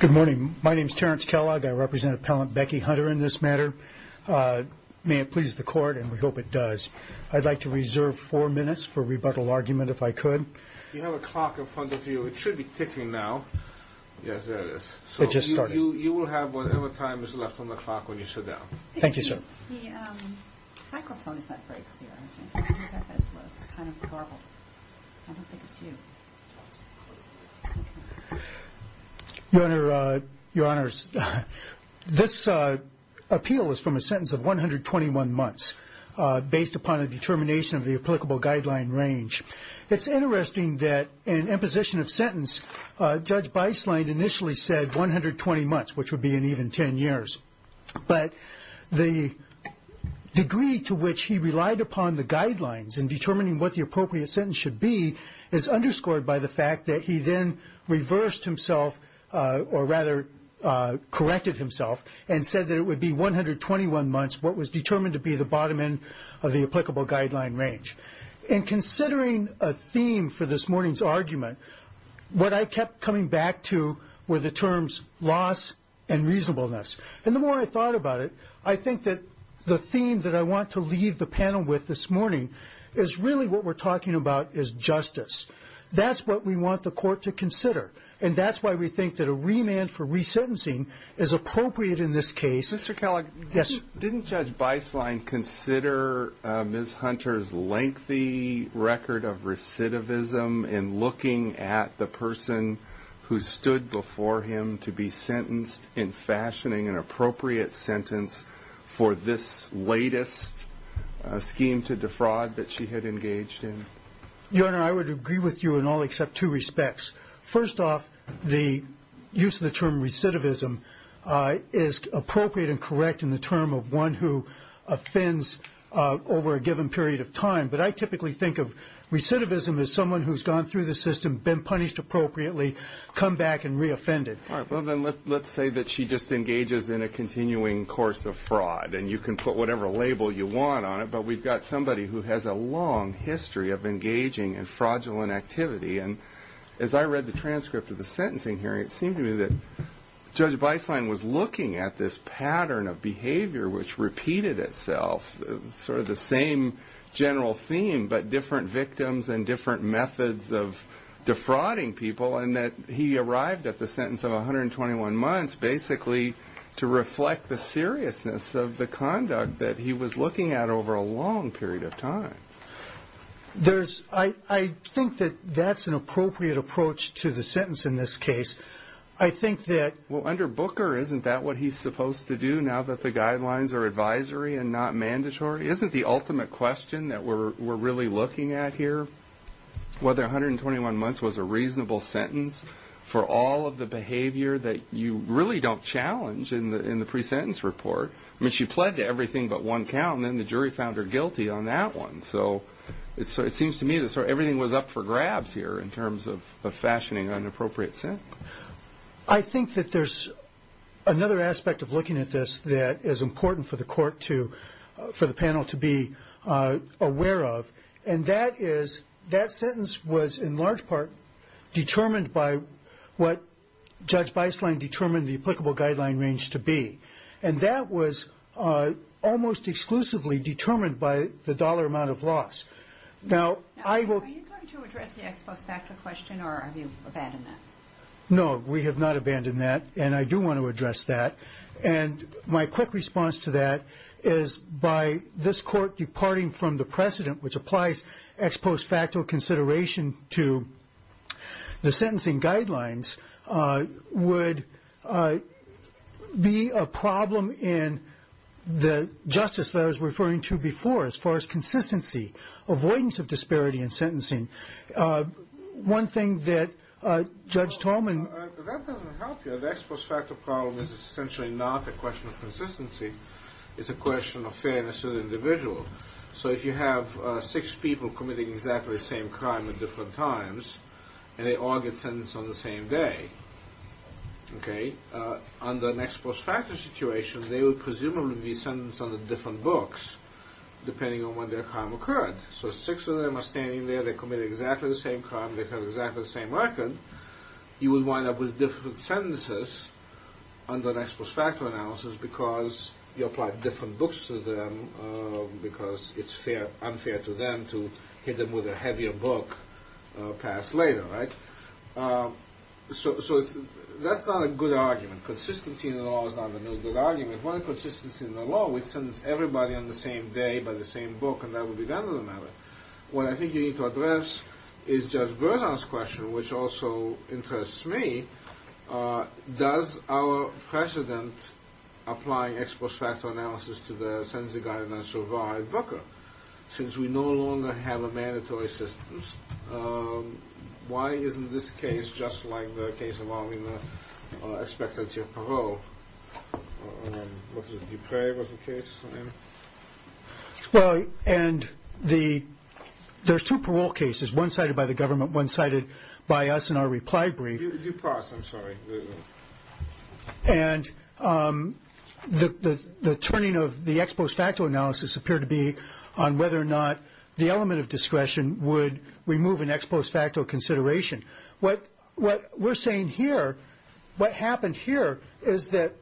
Good morning. My name is Terrence Kellogg. I represent Appellant Becky Hunter in this matter. May it please the court, and we hope it does, I'd like to reserve four minutes for rebuttal argument if I could. You have a clock in front of you. It should be ticking now. Yes, there it is. It just started. You will have whatever time is left on the clock when you sit down. Thank you, sir. Your Honor, this appeal is from a sentence of 121 months based upon a determination of the applicable guideline range. It's interesting that in imposition of sentence, Judge Beislein initially said 120 months, which would be in even 10 years. But the degree to which he relied upon the guidelines in determining what the appropriate sentence should be is underscored by the fact that he then reversed himself or rather corrected himself and said that it would be 121 months, what was determined to be the bottom end of the applicable guideline range. And considering a theme for this morning's argument, what I kept coming back to were the terms loss and reasonableness. And the more I thought about it, I think that the theme that I want to leave the panel with this morning is really what we're talking about is justice. That's what we want the court to consider. And that's why we think that a remand for resentencing is appropriate in this case. Mr. Kellogg. Yes. Didn't Judge Beislein consider Ms. Hunter's lengthy record of recidivism in looking at the person who stood before him to be sentenced in fashioning an appropriate sentence for this latest scheme to defraud that she had engaged in? Your Honor, I would agree with you in all except two respects. First off, the use of the term recidivism is appropriate and correct in the term of one who offends over a given period of time. But I typically think of recidivism as someone who's gone through the system, been punished appropriately, come back and reoffended. All right. Well, then let's say that she just engages in a continuing course of fraud. And you can put whatever label you want on it, but we've got somebody who has a long history of engaging in fraudulent activity. And as I read the transcript of the sentencing hearing, it seemed to me that Judge Beislein was looking at this pattern of behavior which repeated itself, sort of the same general theme, but different victims and different methods of defrauding people, and that he arrived at the sentence of 121 months basically to reflect the seriousness of the conduct that he was looking at over a long period of time. I think that that's an appropriate approach to the sentence in this case. I think that Well, under Booker, isn't that what he's supposed to do now that the guidelines are advisory and not mandatory? Isn't the ultimate question that we're really looking at here whether 121 months was a reasonable sentence for all of the behavior that you really don't challenge in the pre-sentence report? I mean, she pled to everything but one count, and then the other. So it seems to me that everything was up for grabs here in terms of fashioning an appropriate sentence. I think that there's another aspect of looking at this that is important for the panel to be aware of, and that is that sentence was in large part determined by what Judge Beislein determined the applicable guideline range to be. And that was almost exclusively determined by the dollar amount of loss. Now, are you going to address the ex post facto question, or have you abandoned that? No, we have not abandoned that, and I do want to address that. And my quick response to that is by this court departing from the precedent, which applies ex post facto consideration to the sentencing guidelines, would be a problem in the justice that I was referring to before. As far as consistency, avoidance of disparity in sentencing, one thing that Judge Tallman That doesn't help you. The ex post facto problem is essentially not a question of consistency. It's a question of fairness to the individual. So if you have six people committing exactly the same crime at different times, and they all get sentenced on the same day, under an ex post facto situation, they would presumably be sentenced under different books, depending on when their crime occurred. So six of them are standing there, they're committing exactly the same crime, they have exactly the same record, you would wind up with different sentences under an ex post facto analysis, because you applied different books to them, because it's unfair to them to hit them with a heavier book passed later, right? So that's not a good argument. Consistency in the law is not a good argument. Consistency in the law would sentence everybody on the same day by the same book, and that would be the end of the matter. What I think you need to address is Judge Berzon's question, which also interests me. Does our precedent apply ex post facto analysis to the sentencing guidelines so far at Booker? Since we no longer have a mandatory system, why isn't this case just like the case involving the expectancy of parole? Was it Dupre was the case? Well, and there's two parole cases, one cited by the government, one cited by us in our reply brief. And the turning of the ex post facto analysis appeared to be on whether or not the element of discretion would remove an ex post facto consideration. What we're saying here, what happened here, is that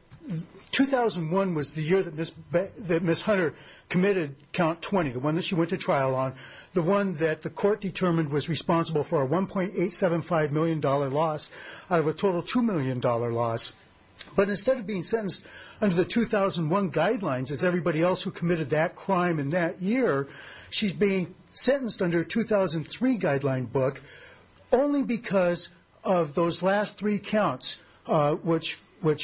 2001 was the year that Ms. Hunter committed count 20, the one that she went to trial on, the one that the court determined was responsible for a $1.875 million loss out of a total $2 million loss. But instead of being sentenced under the 2001 guidelines as everybody else who committed that crime in that year, she's being sentenced under a 2003 guideline book only because of those last three counts, which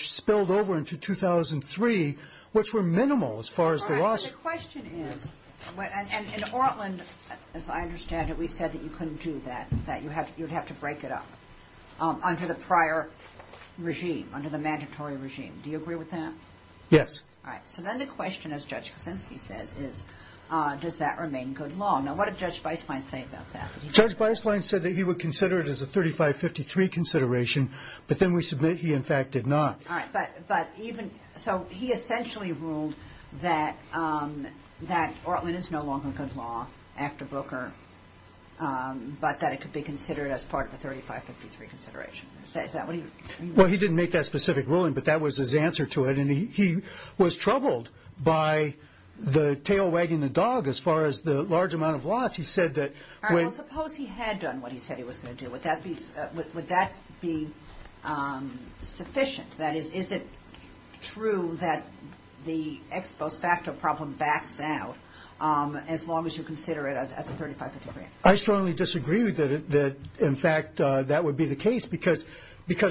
spilled over into 2003, which were minimal as far as the loss. All right, but the question is, and in Orland, as I understand it, we said that you couldn't do that, that you'd have to break it up under the prior regime, under the mandatory regime. Do you agree with that? Yes. All right, so then the question, as Judge Kasinski says, is does that remain good law? Now, what did Judge Beislein say about that? Judge Beislein said that he would consider it as a 3553 consideration, but then we submit he, in fact, did not. All right, but even, so he essentially ruled that Orland is no longer good law after Booker, but that it could be considered as part of a 3553 consideration. Is that what he? Well, he didn't make that specific ruling, but that was his answer to it, and he was troubled by the tail wagging the dog as far as the large amount of loss. He said that All right, well, suppose he had done what he said he was going to do. Would that be sufficient? That is, is it true that the ex post facto problem backs out as long as you consider it as a 3553? I strongly disagree with that. In fact, that would be the case, because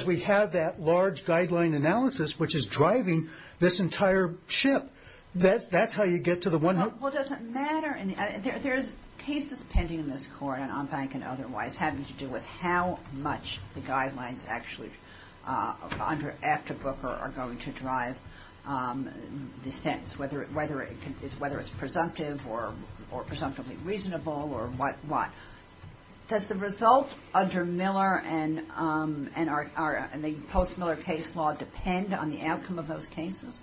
we have that large guideline analysis, which is driving this entire ship. That's how you get to the one Well, it doesn't matter. There's cases pending in this court, on bank and otherwise, having to do with how much the guidelines actually, after Booker, are going to drive the sentence, whether it's presumptive or presumptively reasonable or what. Does the result under Miller and the post Miller case law depend on the outcome of those cases?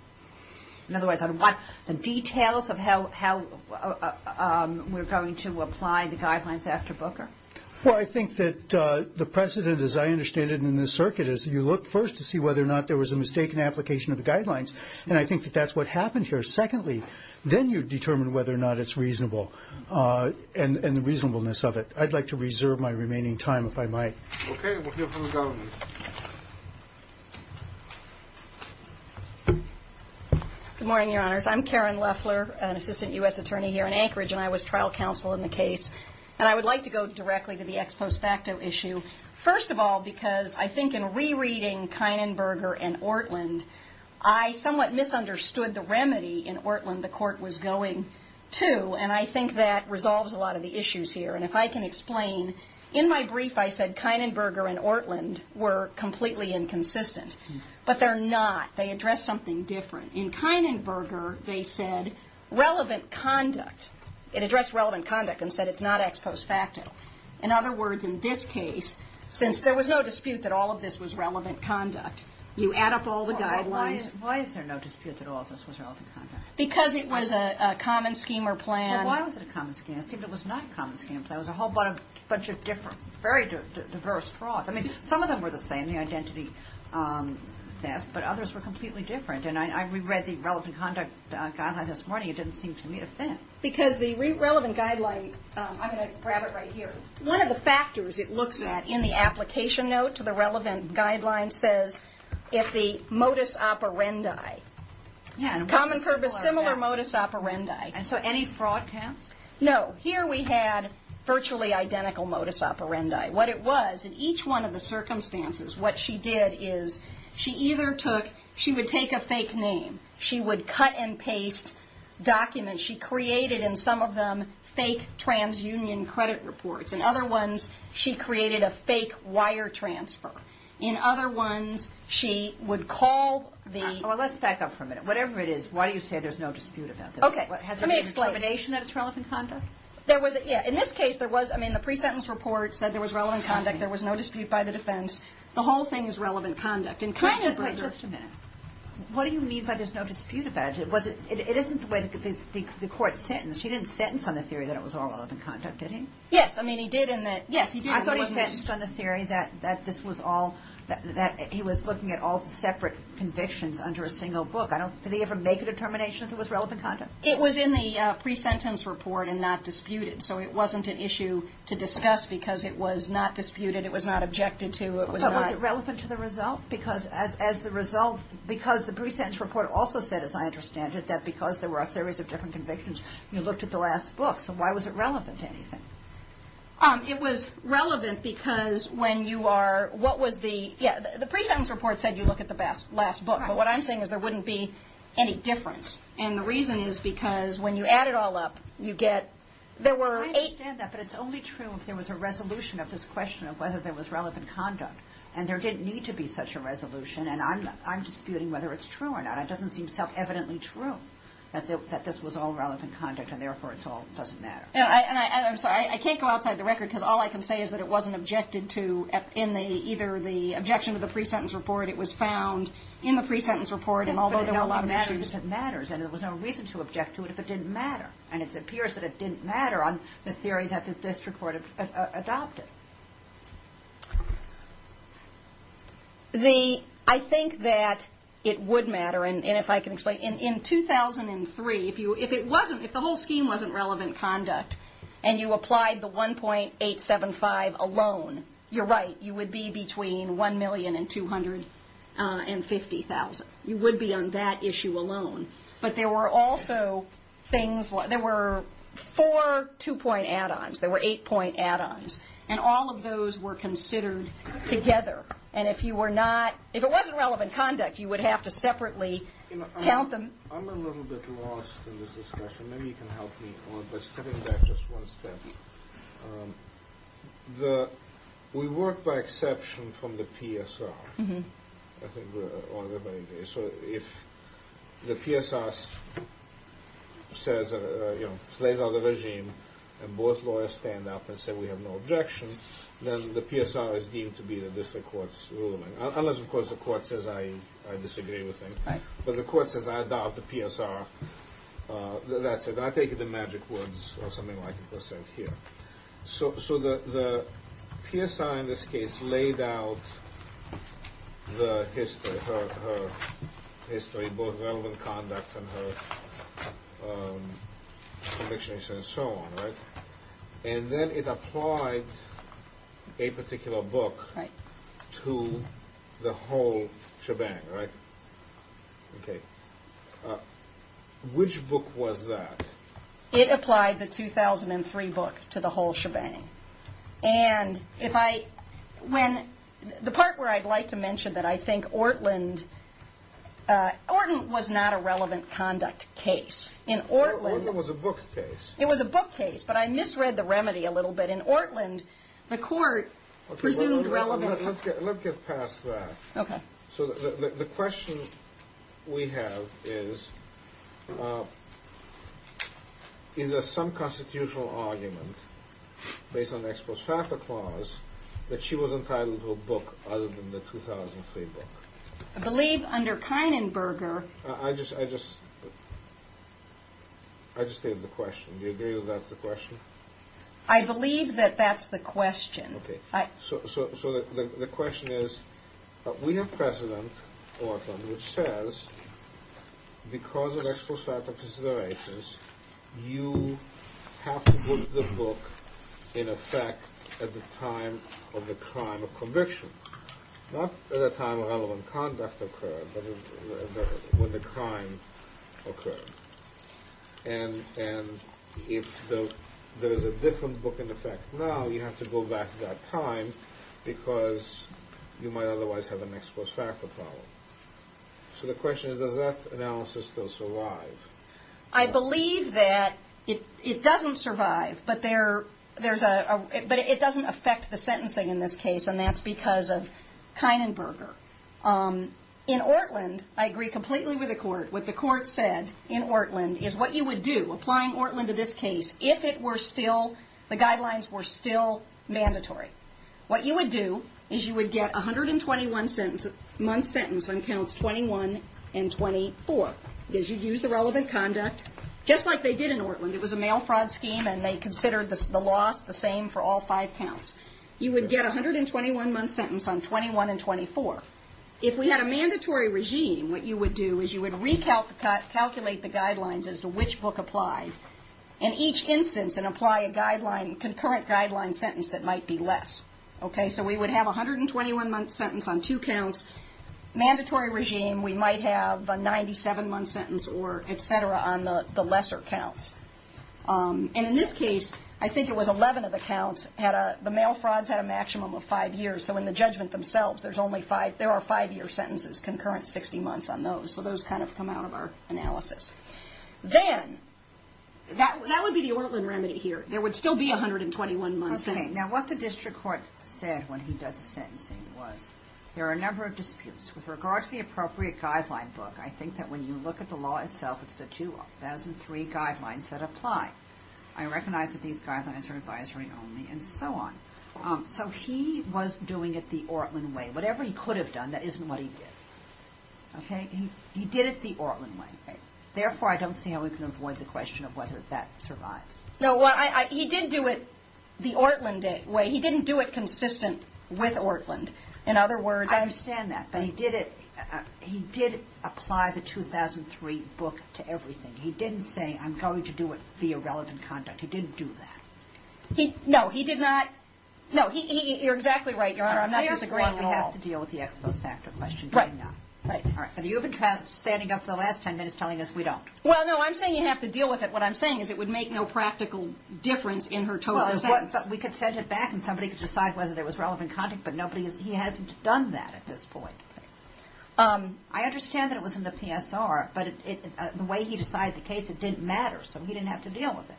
In other words, on what the details of how we're going to apply the guidelines after Booker? Well, I think that the precedent, as I understand it in this circuit, is you look first to see whether or not there was a mistake in application of the guidelines, and I think that that's what happened here. Secondly, then you determine whether or not it's reasonable, and the reasonableness of it. I'd like to reserve my remaining time, if I might. Okay. We'll hear from the government. Good morning, Your Honors. I'm Karen Leffler, an assistant U.S. attorney here in Anchorage, and I was trial counsel in the case. And I would like to go directly to the ex post facto issue. First of all, because I think in rereading Kienenberger and Ortlund, I somewhat misunderstood the remedy in Ortlund the court was going to, and I think that resolves a lot of the issues here. And if I can explain, in my brief I said Kienenberger and Ortlund were completely inconsistent, but they're not. They address something different. In Kienenberger, they said relevant conduct. It addressed relevant conduct and said it's not ex post facto. In other words, in this case, since there was no dispute that all of this was relevant conduct, you add up all the guidelines. Why is there no dispute that all of this was relevant conduct? Because it was a common scheme or plan. Well, why was it a common scheme? It seemed it was not a common scheme. It was a whole bunch of different, very diverse frauds. I mean, some of them were the same, the identity theft, but others were completely different. And I reread the relevant conduct guideline this morning. It didn't seem to meet a thing. Because the relevant guideline, I'm going to grab it right here. One of the factors it looks at in the application note to the relevant guideline says if the modus operandi. Common purpose, similar modus operandi. And so any fraud counts? No. Here we had virtually identical modus operandi. What it was, in each one of the circumstances, what she did is she either took, she would take a fake name. She would cut and paste documents. She created in some of them fake transunion credit reports. In other ones, she created a fake wire transfer. In other ones, she would call the. Well, let's back up for a minute. Whatever it is, why do you say there's no dispute about this? Okay. Let me explain. Has there been a determination that it's relevant conduct? There was, yeah. In this case, there was, I mean, the pre-sentence report said there was relevant conduct. There was no dispute by the defense. The whole thing is relevant conduct. Wait just a minute. What do you mean by there's no dispute about it? It wasn't, it isn't the way the court sentenced. She didn't sentence on the theory that it was all relevant conduct, did he? Yes. I mean, he did in that. Yes, he did. I thought he sentenced on the theory that this was all, that he was looking at all the separate convictions under a single book. I don't, did he ever make a determination that it was relevant conduct? It was in the pre-sentence report and not disputed. So it wasn't an issue to discuss because it was not disputed. It was not objected to. It was not. But was it relevant to the result? Because as the result, because the pre-sentence report also said, as I understand it, that because there were a series of different convictions, you looked at the last book. So why was it relevant to anything? It was relevant because when you are, what was the, yeah, the pre-sentence report said you look at the last book. Right. But what I'm saying is there wouldn't be any difference. And the reason is because when you add it all up, you get, there were eight. I understand that. But it's only true if there was a resolution of this question of whether there was relevant conduct. And there didn't need to be such a resolution. And I'm, I'm disputing whether it's true or not. It doesn't seem self-evidently true that this was all relevant conduct and therefore it's all, doesn't matter. And I, and I, I'm sorry, I can't go outside the record because all I can say is that it wasn't objected to in the, either the objection to the pre-sentence report. It was found in the pre-sentence report and although there were a lot of issues. But it only matters if it matters. And there was no reason to object to it if it didn't matter. And it appears that it didn't matter on the theory that the district court adopted. The, I think that it would matter and, and if I can explain, in, in 2003, if you, if it wasn't, if the whole scheme wasn't relevant conduct and you applied the 1.875 alone, you're right, you would be between 1 million and 250,000. You would be on that issue alone. But there were also things, there were four two-point add-ons. There were eight-point add-ons. And all of those were considered together. And if you were not, if it wasn't relevant conduct, you would have to separately count them. I'm a little bit lost in this discussion. Maybe you can help me by stepping back just one step. The, we work by exception from the PSR. I think we're, so if the PSR says, you know, slays out the regime and both lawyers stand up and say we have no objection, then the PSR is deemed to be the district court's ruling. Unless, of course, the court says I, I disagree with them. Right. But the court says I adopt the PSR. That's it. I take it in magic words or something like it was said here. So, so the, the PSR in this case laid out the history, her, her history, both relevant conduct and her, you know, her, her convictions and so on, right? And then it applied a particular book. Right. To the whole shebang, right? Okay. Which book was that? It applied the 2003 book to the whole shebang. And if I, when, the part where I'd like to mention that I think Ortland, Orton was not a relevant conduct case. In Ortland. Orton was a book case. It was a book case, but I misread the remedy a little bit. In Ortland, the court presumed relevant. Let's get, let's get past that. Okay. So the, the, the question we have is, is there some constitutional argument based on the ex post facto clause that she was entitled to a book other than the 2003 book? I believe under Kienenberger. I just, I just, I just stated the question. Do you agree that that's the question? I believe that that's the question. Okay. So, so, so the, the question is, we have precedent, Orton, which says because of ex post facto considerations, you have to book the book in effect at the time of the crime of conviction. Not at a time of relevant conduct occurred, but when the crime occurred. And, and if the, there is a different book in effect now, you have to go back that time because you might otherwise have an ex post facto problem. So the question is, does that analysis still survive? I believe that it, it doesn't survive, but there, there's a, but it doesn't affect the sentencing in this case, and that's because of Kienenberger. In Ortland, I agree completely with the court. What the court said in Ortland is what you would do, applying Ortland to this case, if it were still, the guidelines were still mandatory. What you would do is you would get 121 sentence, month sentence on counts 21 and 24. Because you'd use the relevant conduct, just like they did in Ortland. It was a mail fraud scheme, and they considered the, the loss the same for all five counts. You would get 121 month sentence on 21 and 24. If we had a mandatory regime, what you would do is you would recalculate the guidelines as to which book applied in each instance and apply a guideline, concurrent guideline sentence that might be less. Okay? So we would have 121 month sentence on two counts. Mandatory regime, we might have a 97 month sentence or et cetera on the, the lesser counts. And in this case, I think it was 11 of the counts had a, the mail frauds had a maximum of five years. So in the judgment themselves, there's only five, there are five year sentences, concurrent 60 months on those. So those kind of come out of our analysis. Then, that, that would be the Ortland remedy here. There would still be 121 month sentence. Okay. Now what the district court said when he did the sentencing was, there are a number of disputes. With regard to the appropriate guideline book, I think that when you look at the law itself, it's the 2003 guidelines that apply. I recognize that these guidelines are advisory only and so on. So he was doing it the Ortland way. Whatever he could have done, that isn't what he did. Okay? He, he did it the Ortland way. Therefore, I don't see how we can avoid the question of whether that survives. No, what I, I, he did do it the Ortland way. He didn't do it consistent with Ortland. In other words, I understand that. But he did it, he did apply the 2003 book to everything. He didn't say, I'm going to do it via relevant conduct. He didn't do that. He, no, he did not. No, he, he, he, you're exactly right, Your Honor. I'm not disagreeing at all. We have to deal with the exposed factor question. Right, right. All right. And you've been standing up for the last ten minutes telling us we don't. Well, no, I'm saying you have to deal with it. What I'm saying is it would make no practical difference in her total sentence. Well, we could send it back and somebody could decide whether there was relevant conduct, but nobody, he hasn't done that at this point. I understand that it was in the PSR, but it, the way he decided the case, it didn't matter. So he didn't have to deal with it.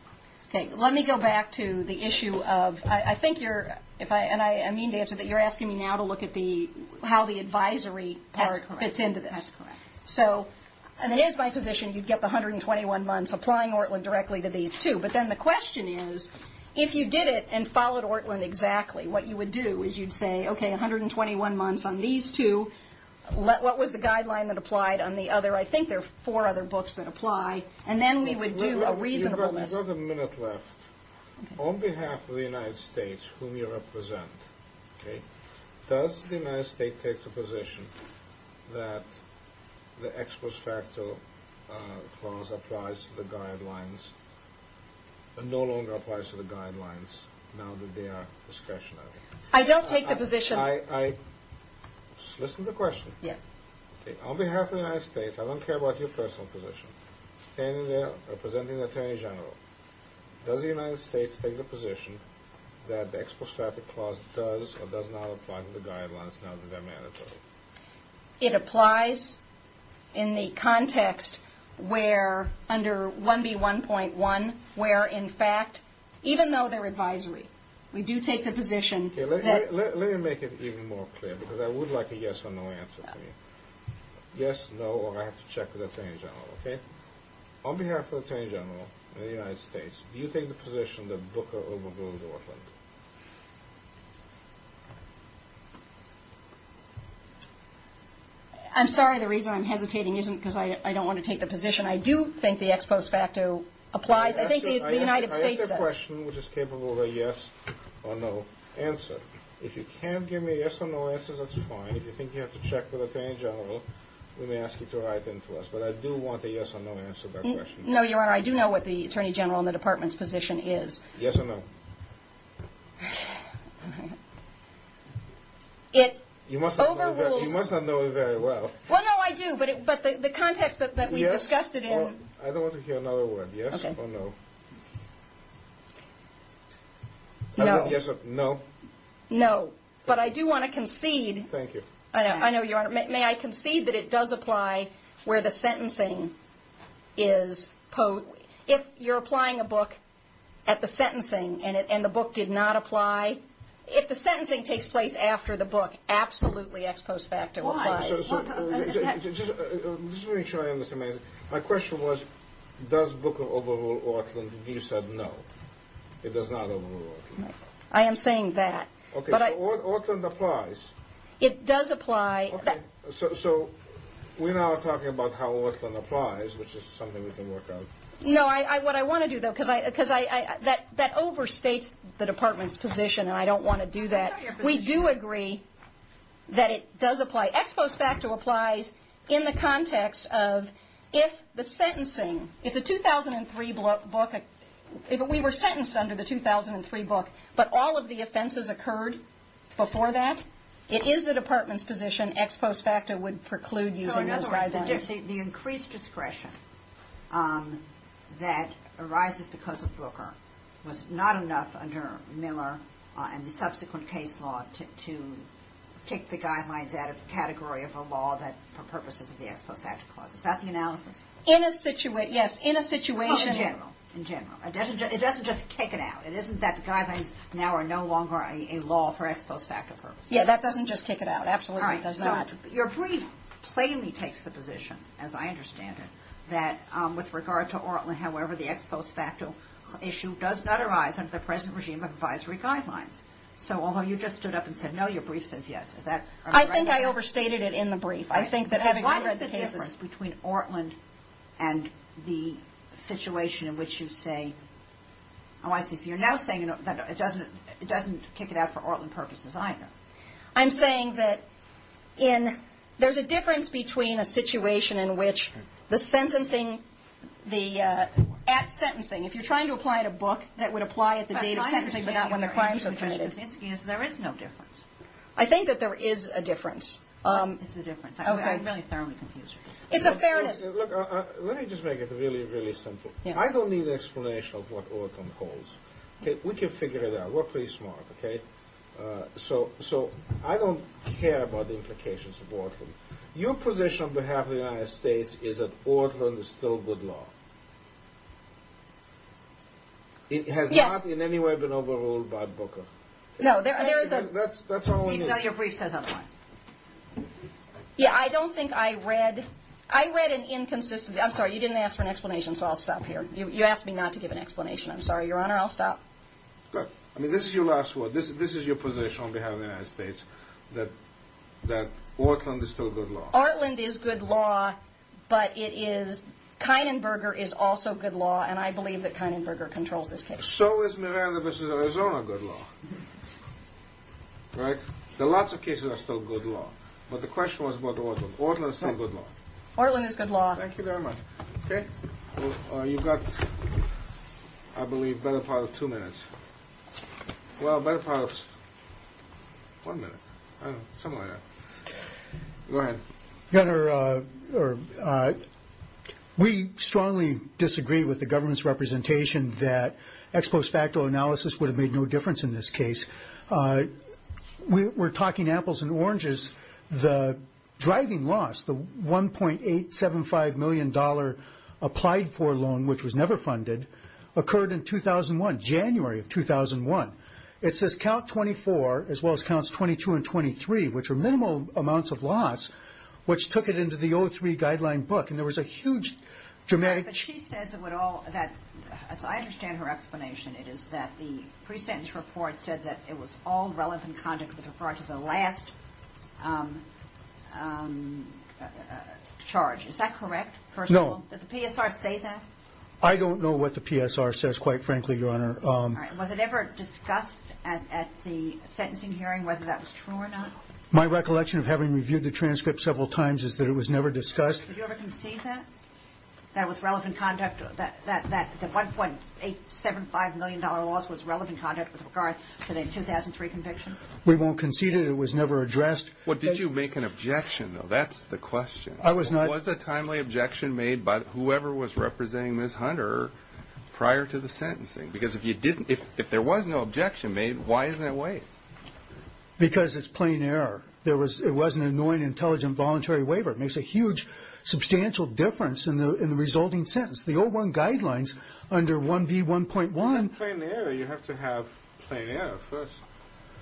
Okay. Let me go back to the issue of, I think you're, if I, and I mean to answer that you're asking me now to look at the, how the advisory part fits into this. That's correct. So, and it is my position you'd get the 121 months applying Ortland directly to these two. But then the question is, if you did it and followed Ortland exactly, what you would do is you'd say, okay, 121 months on these two. What was the guideline that applied on the other? I think there are four other books that apply. And then we would do a reasonable list. You've got a minute left. On behalf of the United States, whom you represent, okay, does the United States take the position that the ex post facto clause applies to the guidelines and no longer applies to the guidelines now that they are discretionary? I don't take the position. I, I, listen to the question. Yeah. Okay. On behalf of the United States, I don't care about your personal position, standing there representing the Attorney General, does the United States take the position that the ex post facto clause does or does not apply to the guidelines now that they're mandatory? It applies in the context where, under 1B1.1, where in fact, even though they're advisory, we do take the position that Let me make it even more clear because I would like a yes or no answer from you. Yes, no, or I have to check with the Attorney General, okay? On behalf of the Attorney General of the United States, do you take the position that Booker overruled Ortland? I'm sorry, the reason I'm hesitating isn't because I don't want to take the position. I do think the ex post facto applies. I think the United States does. I ask you a question which is capable of a yes or no answer. If you can't give me a yes or no answer, that's fine. If you think you have to check with the Attorney General, we may ask you to write in to us, but I do want a yes or no answer to that question. No, Your Honor, I do know what the Attorney General and the Department's position is. Yes or no? You must not know it very well. Well, no, I do, but the context that we discussed it in... I don't want to hear another word. Yes or no? No. Yes or no? No, but I do want to concede... Thank you. I know, Your Honor. May I concede that it does apply where the sentencing is... If you're applying a book at the sentencing and the book did not apply, if the sentencing takes place after the book, absolutely ex post facto applies. Why? Just to make sure I understand, my question was, does Booker overrule Auckland? You said no. It does not overrule Auckland. I am saying that. Okay, so Auckland applies. It does apply. Okay, so we're now talking about how Auckland applies, which is something we can work out. No, what I want to do, though, because that overstates the Department's position, and I don't want to do that. We do agree that it does apply. Ex post facto applies in the context of if the sentencing... If the 2003 book... If we were sentenced under the 2003 book, but all of the offenses occurred before that, it is the Department's position ex post facto would preclude using those guidelines. So, in other words, the increased discretion that arises because of Booker was not enough under Miller and the subsequent case law to kick the guidelines out of the category of a law for purposes of the ex post facto clause. Is that the analysis? In a situation... Well, in general. In general. It doesn't just kick it out. It isn't that the guidelines now are no longer a law for ex post facto purposes. Yeah, that doesn't just kick it out. Absolutely does not. All right, so your brief plainly takes the position, as I understand it, that with regard to Auckland, however, the ex post facto issue does not arise under the present regime of advisory guidelines. So, although you just stood up and said, no, your brief says yes, is that... I think I overstated it in the brief. Why is the difference between Auckland and the situation in which you say... Oh, I see. So you're now saying that it doesn't kick it out for Auckland purposes either. I'm saying that there's a difference between a situation in which the sentencing... At sentencing, if you're trying to apply it a book, that would apply at the date of sentencing, but not when the crimes were committed. My understanding of your answer, Judge Kuczynski, is there is no difference. I think that there is a difference. There's a difference. I'm really thoroughly confused. It's a fairness... Let me just make it really, really simple. I don't need an explanation of what Auckland holds. We can figure it out. We're pretty smart, okay? So, I don't care about the implications of Auckland. Your position on behalf of the United States is that Auckland is still good law. It has not in any way been overruled by Booker. No, there is a... That's all we need. No, your brief says otherwise. Yeah, I don't think I read... I read an inconsistent... I'm sorry, you didn't ask for an explanation, so I'll stop here. You asked me not to give an explanation. I'm sorry, Your Honor, I'll stop. Look, I mean, this is your last word. This is your position on behalf of the United States, that Auckland is still good law. Auckland is good law, but it is... Kynan-Berger is also good law, and I believe that Kynan-Berger controls this case. So is Miranda v. Arizona good law, right? There are lots of cases that are still good law, but the question was about Auckland. Auckland is still good law. Auckland is good law. Thank you very much. Okay. You've got, I believe, a better part of two minutes. Well, a better part of one minute. I don't know, somewhere around there. Go ahead. Your Honor, we strongly disagree with the government's representation that ex post facto analysis would have made no difference in this case. We're talking apples and oranges. The driving loss, the $1.875 million applied for loan, which was never funded, occurred in 2001, January of 2001. It says count 24, as well as counts 22 and 23, which are minimal amounts of loss, which took it into the 03 guideline book. And there was a huge dramatic... But she says it would all... I understand her explanation. It is that the pre-sentence report said that it was all relevant conduct with regard to the last charge. Is that correct, first of all? No. Did the PSR say that? All right. Was it ever discussed at the sentencing hearing whether that was true or not? My recollection of having reviewed the transcript several times is that it was never discussed. Did you ever concede that, that it was relevant conduct, that the $1.875 million loss was relevant conduct with regard to the 2003 conviction? We won't concede it. It was never addressed. Well, did you make an objection, though? That's the question. I was not... There was no objection made by whoever was representing Ms. Hunter prior to the sentencing. Because if you didn't... If there was no objection made, why isn't it waived? Because it's plain error. There was... It was an annoying, intelligent, voluntary waiver. It makes a huge, substantial difference in the resulting sentence. The 01 guidelines under 1B1.1... It's plain error. You have to have plain error first.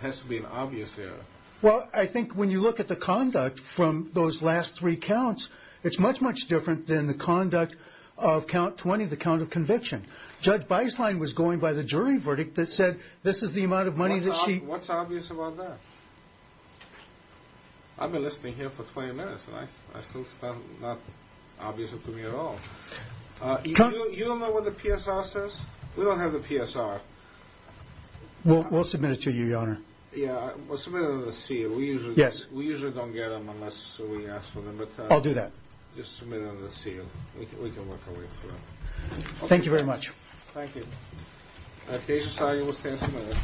It has to be an obvious error. Well, I think when you look at the conduct from those last three counts, it's much, much different than the conduct of count 20, the count of conviction. Judge Beislein was going by the jury verdict that said this is the amount of money that she... What's obvious about that? I've been listening here for 20 minutes, and I still found it not obvious to me at all. You don't know what the PSR says? We don't have the PSR. We'll submit it to you, Your Honor. Yeah, we'll submit it under the seal. We usually don't get them unless we ask for them. I'll do that. Just submit it under the seal. We can work our way through it. Thank you very much. Thank you. Case decided. We'll stand submitted.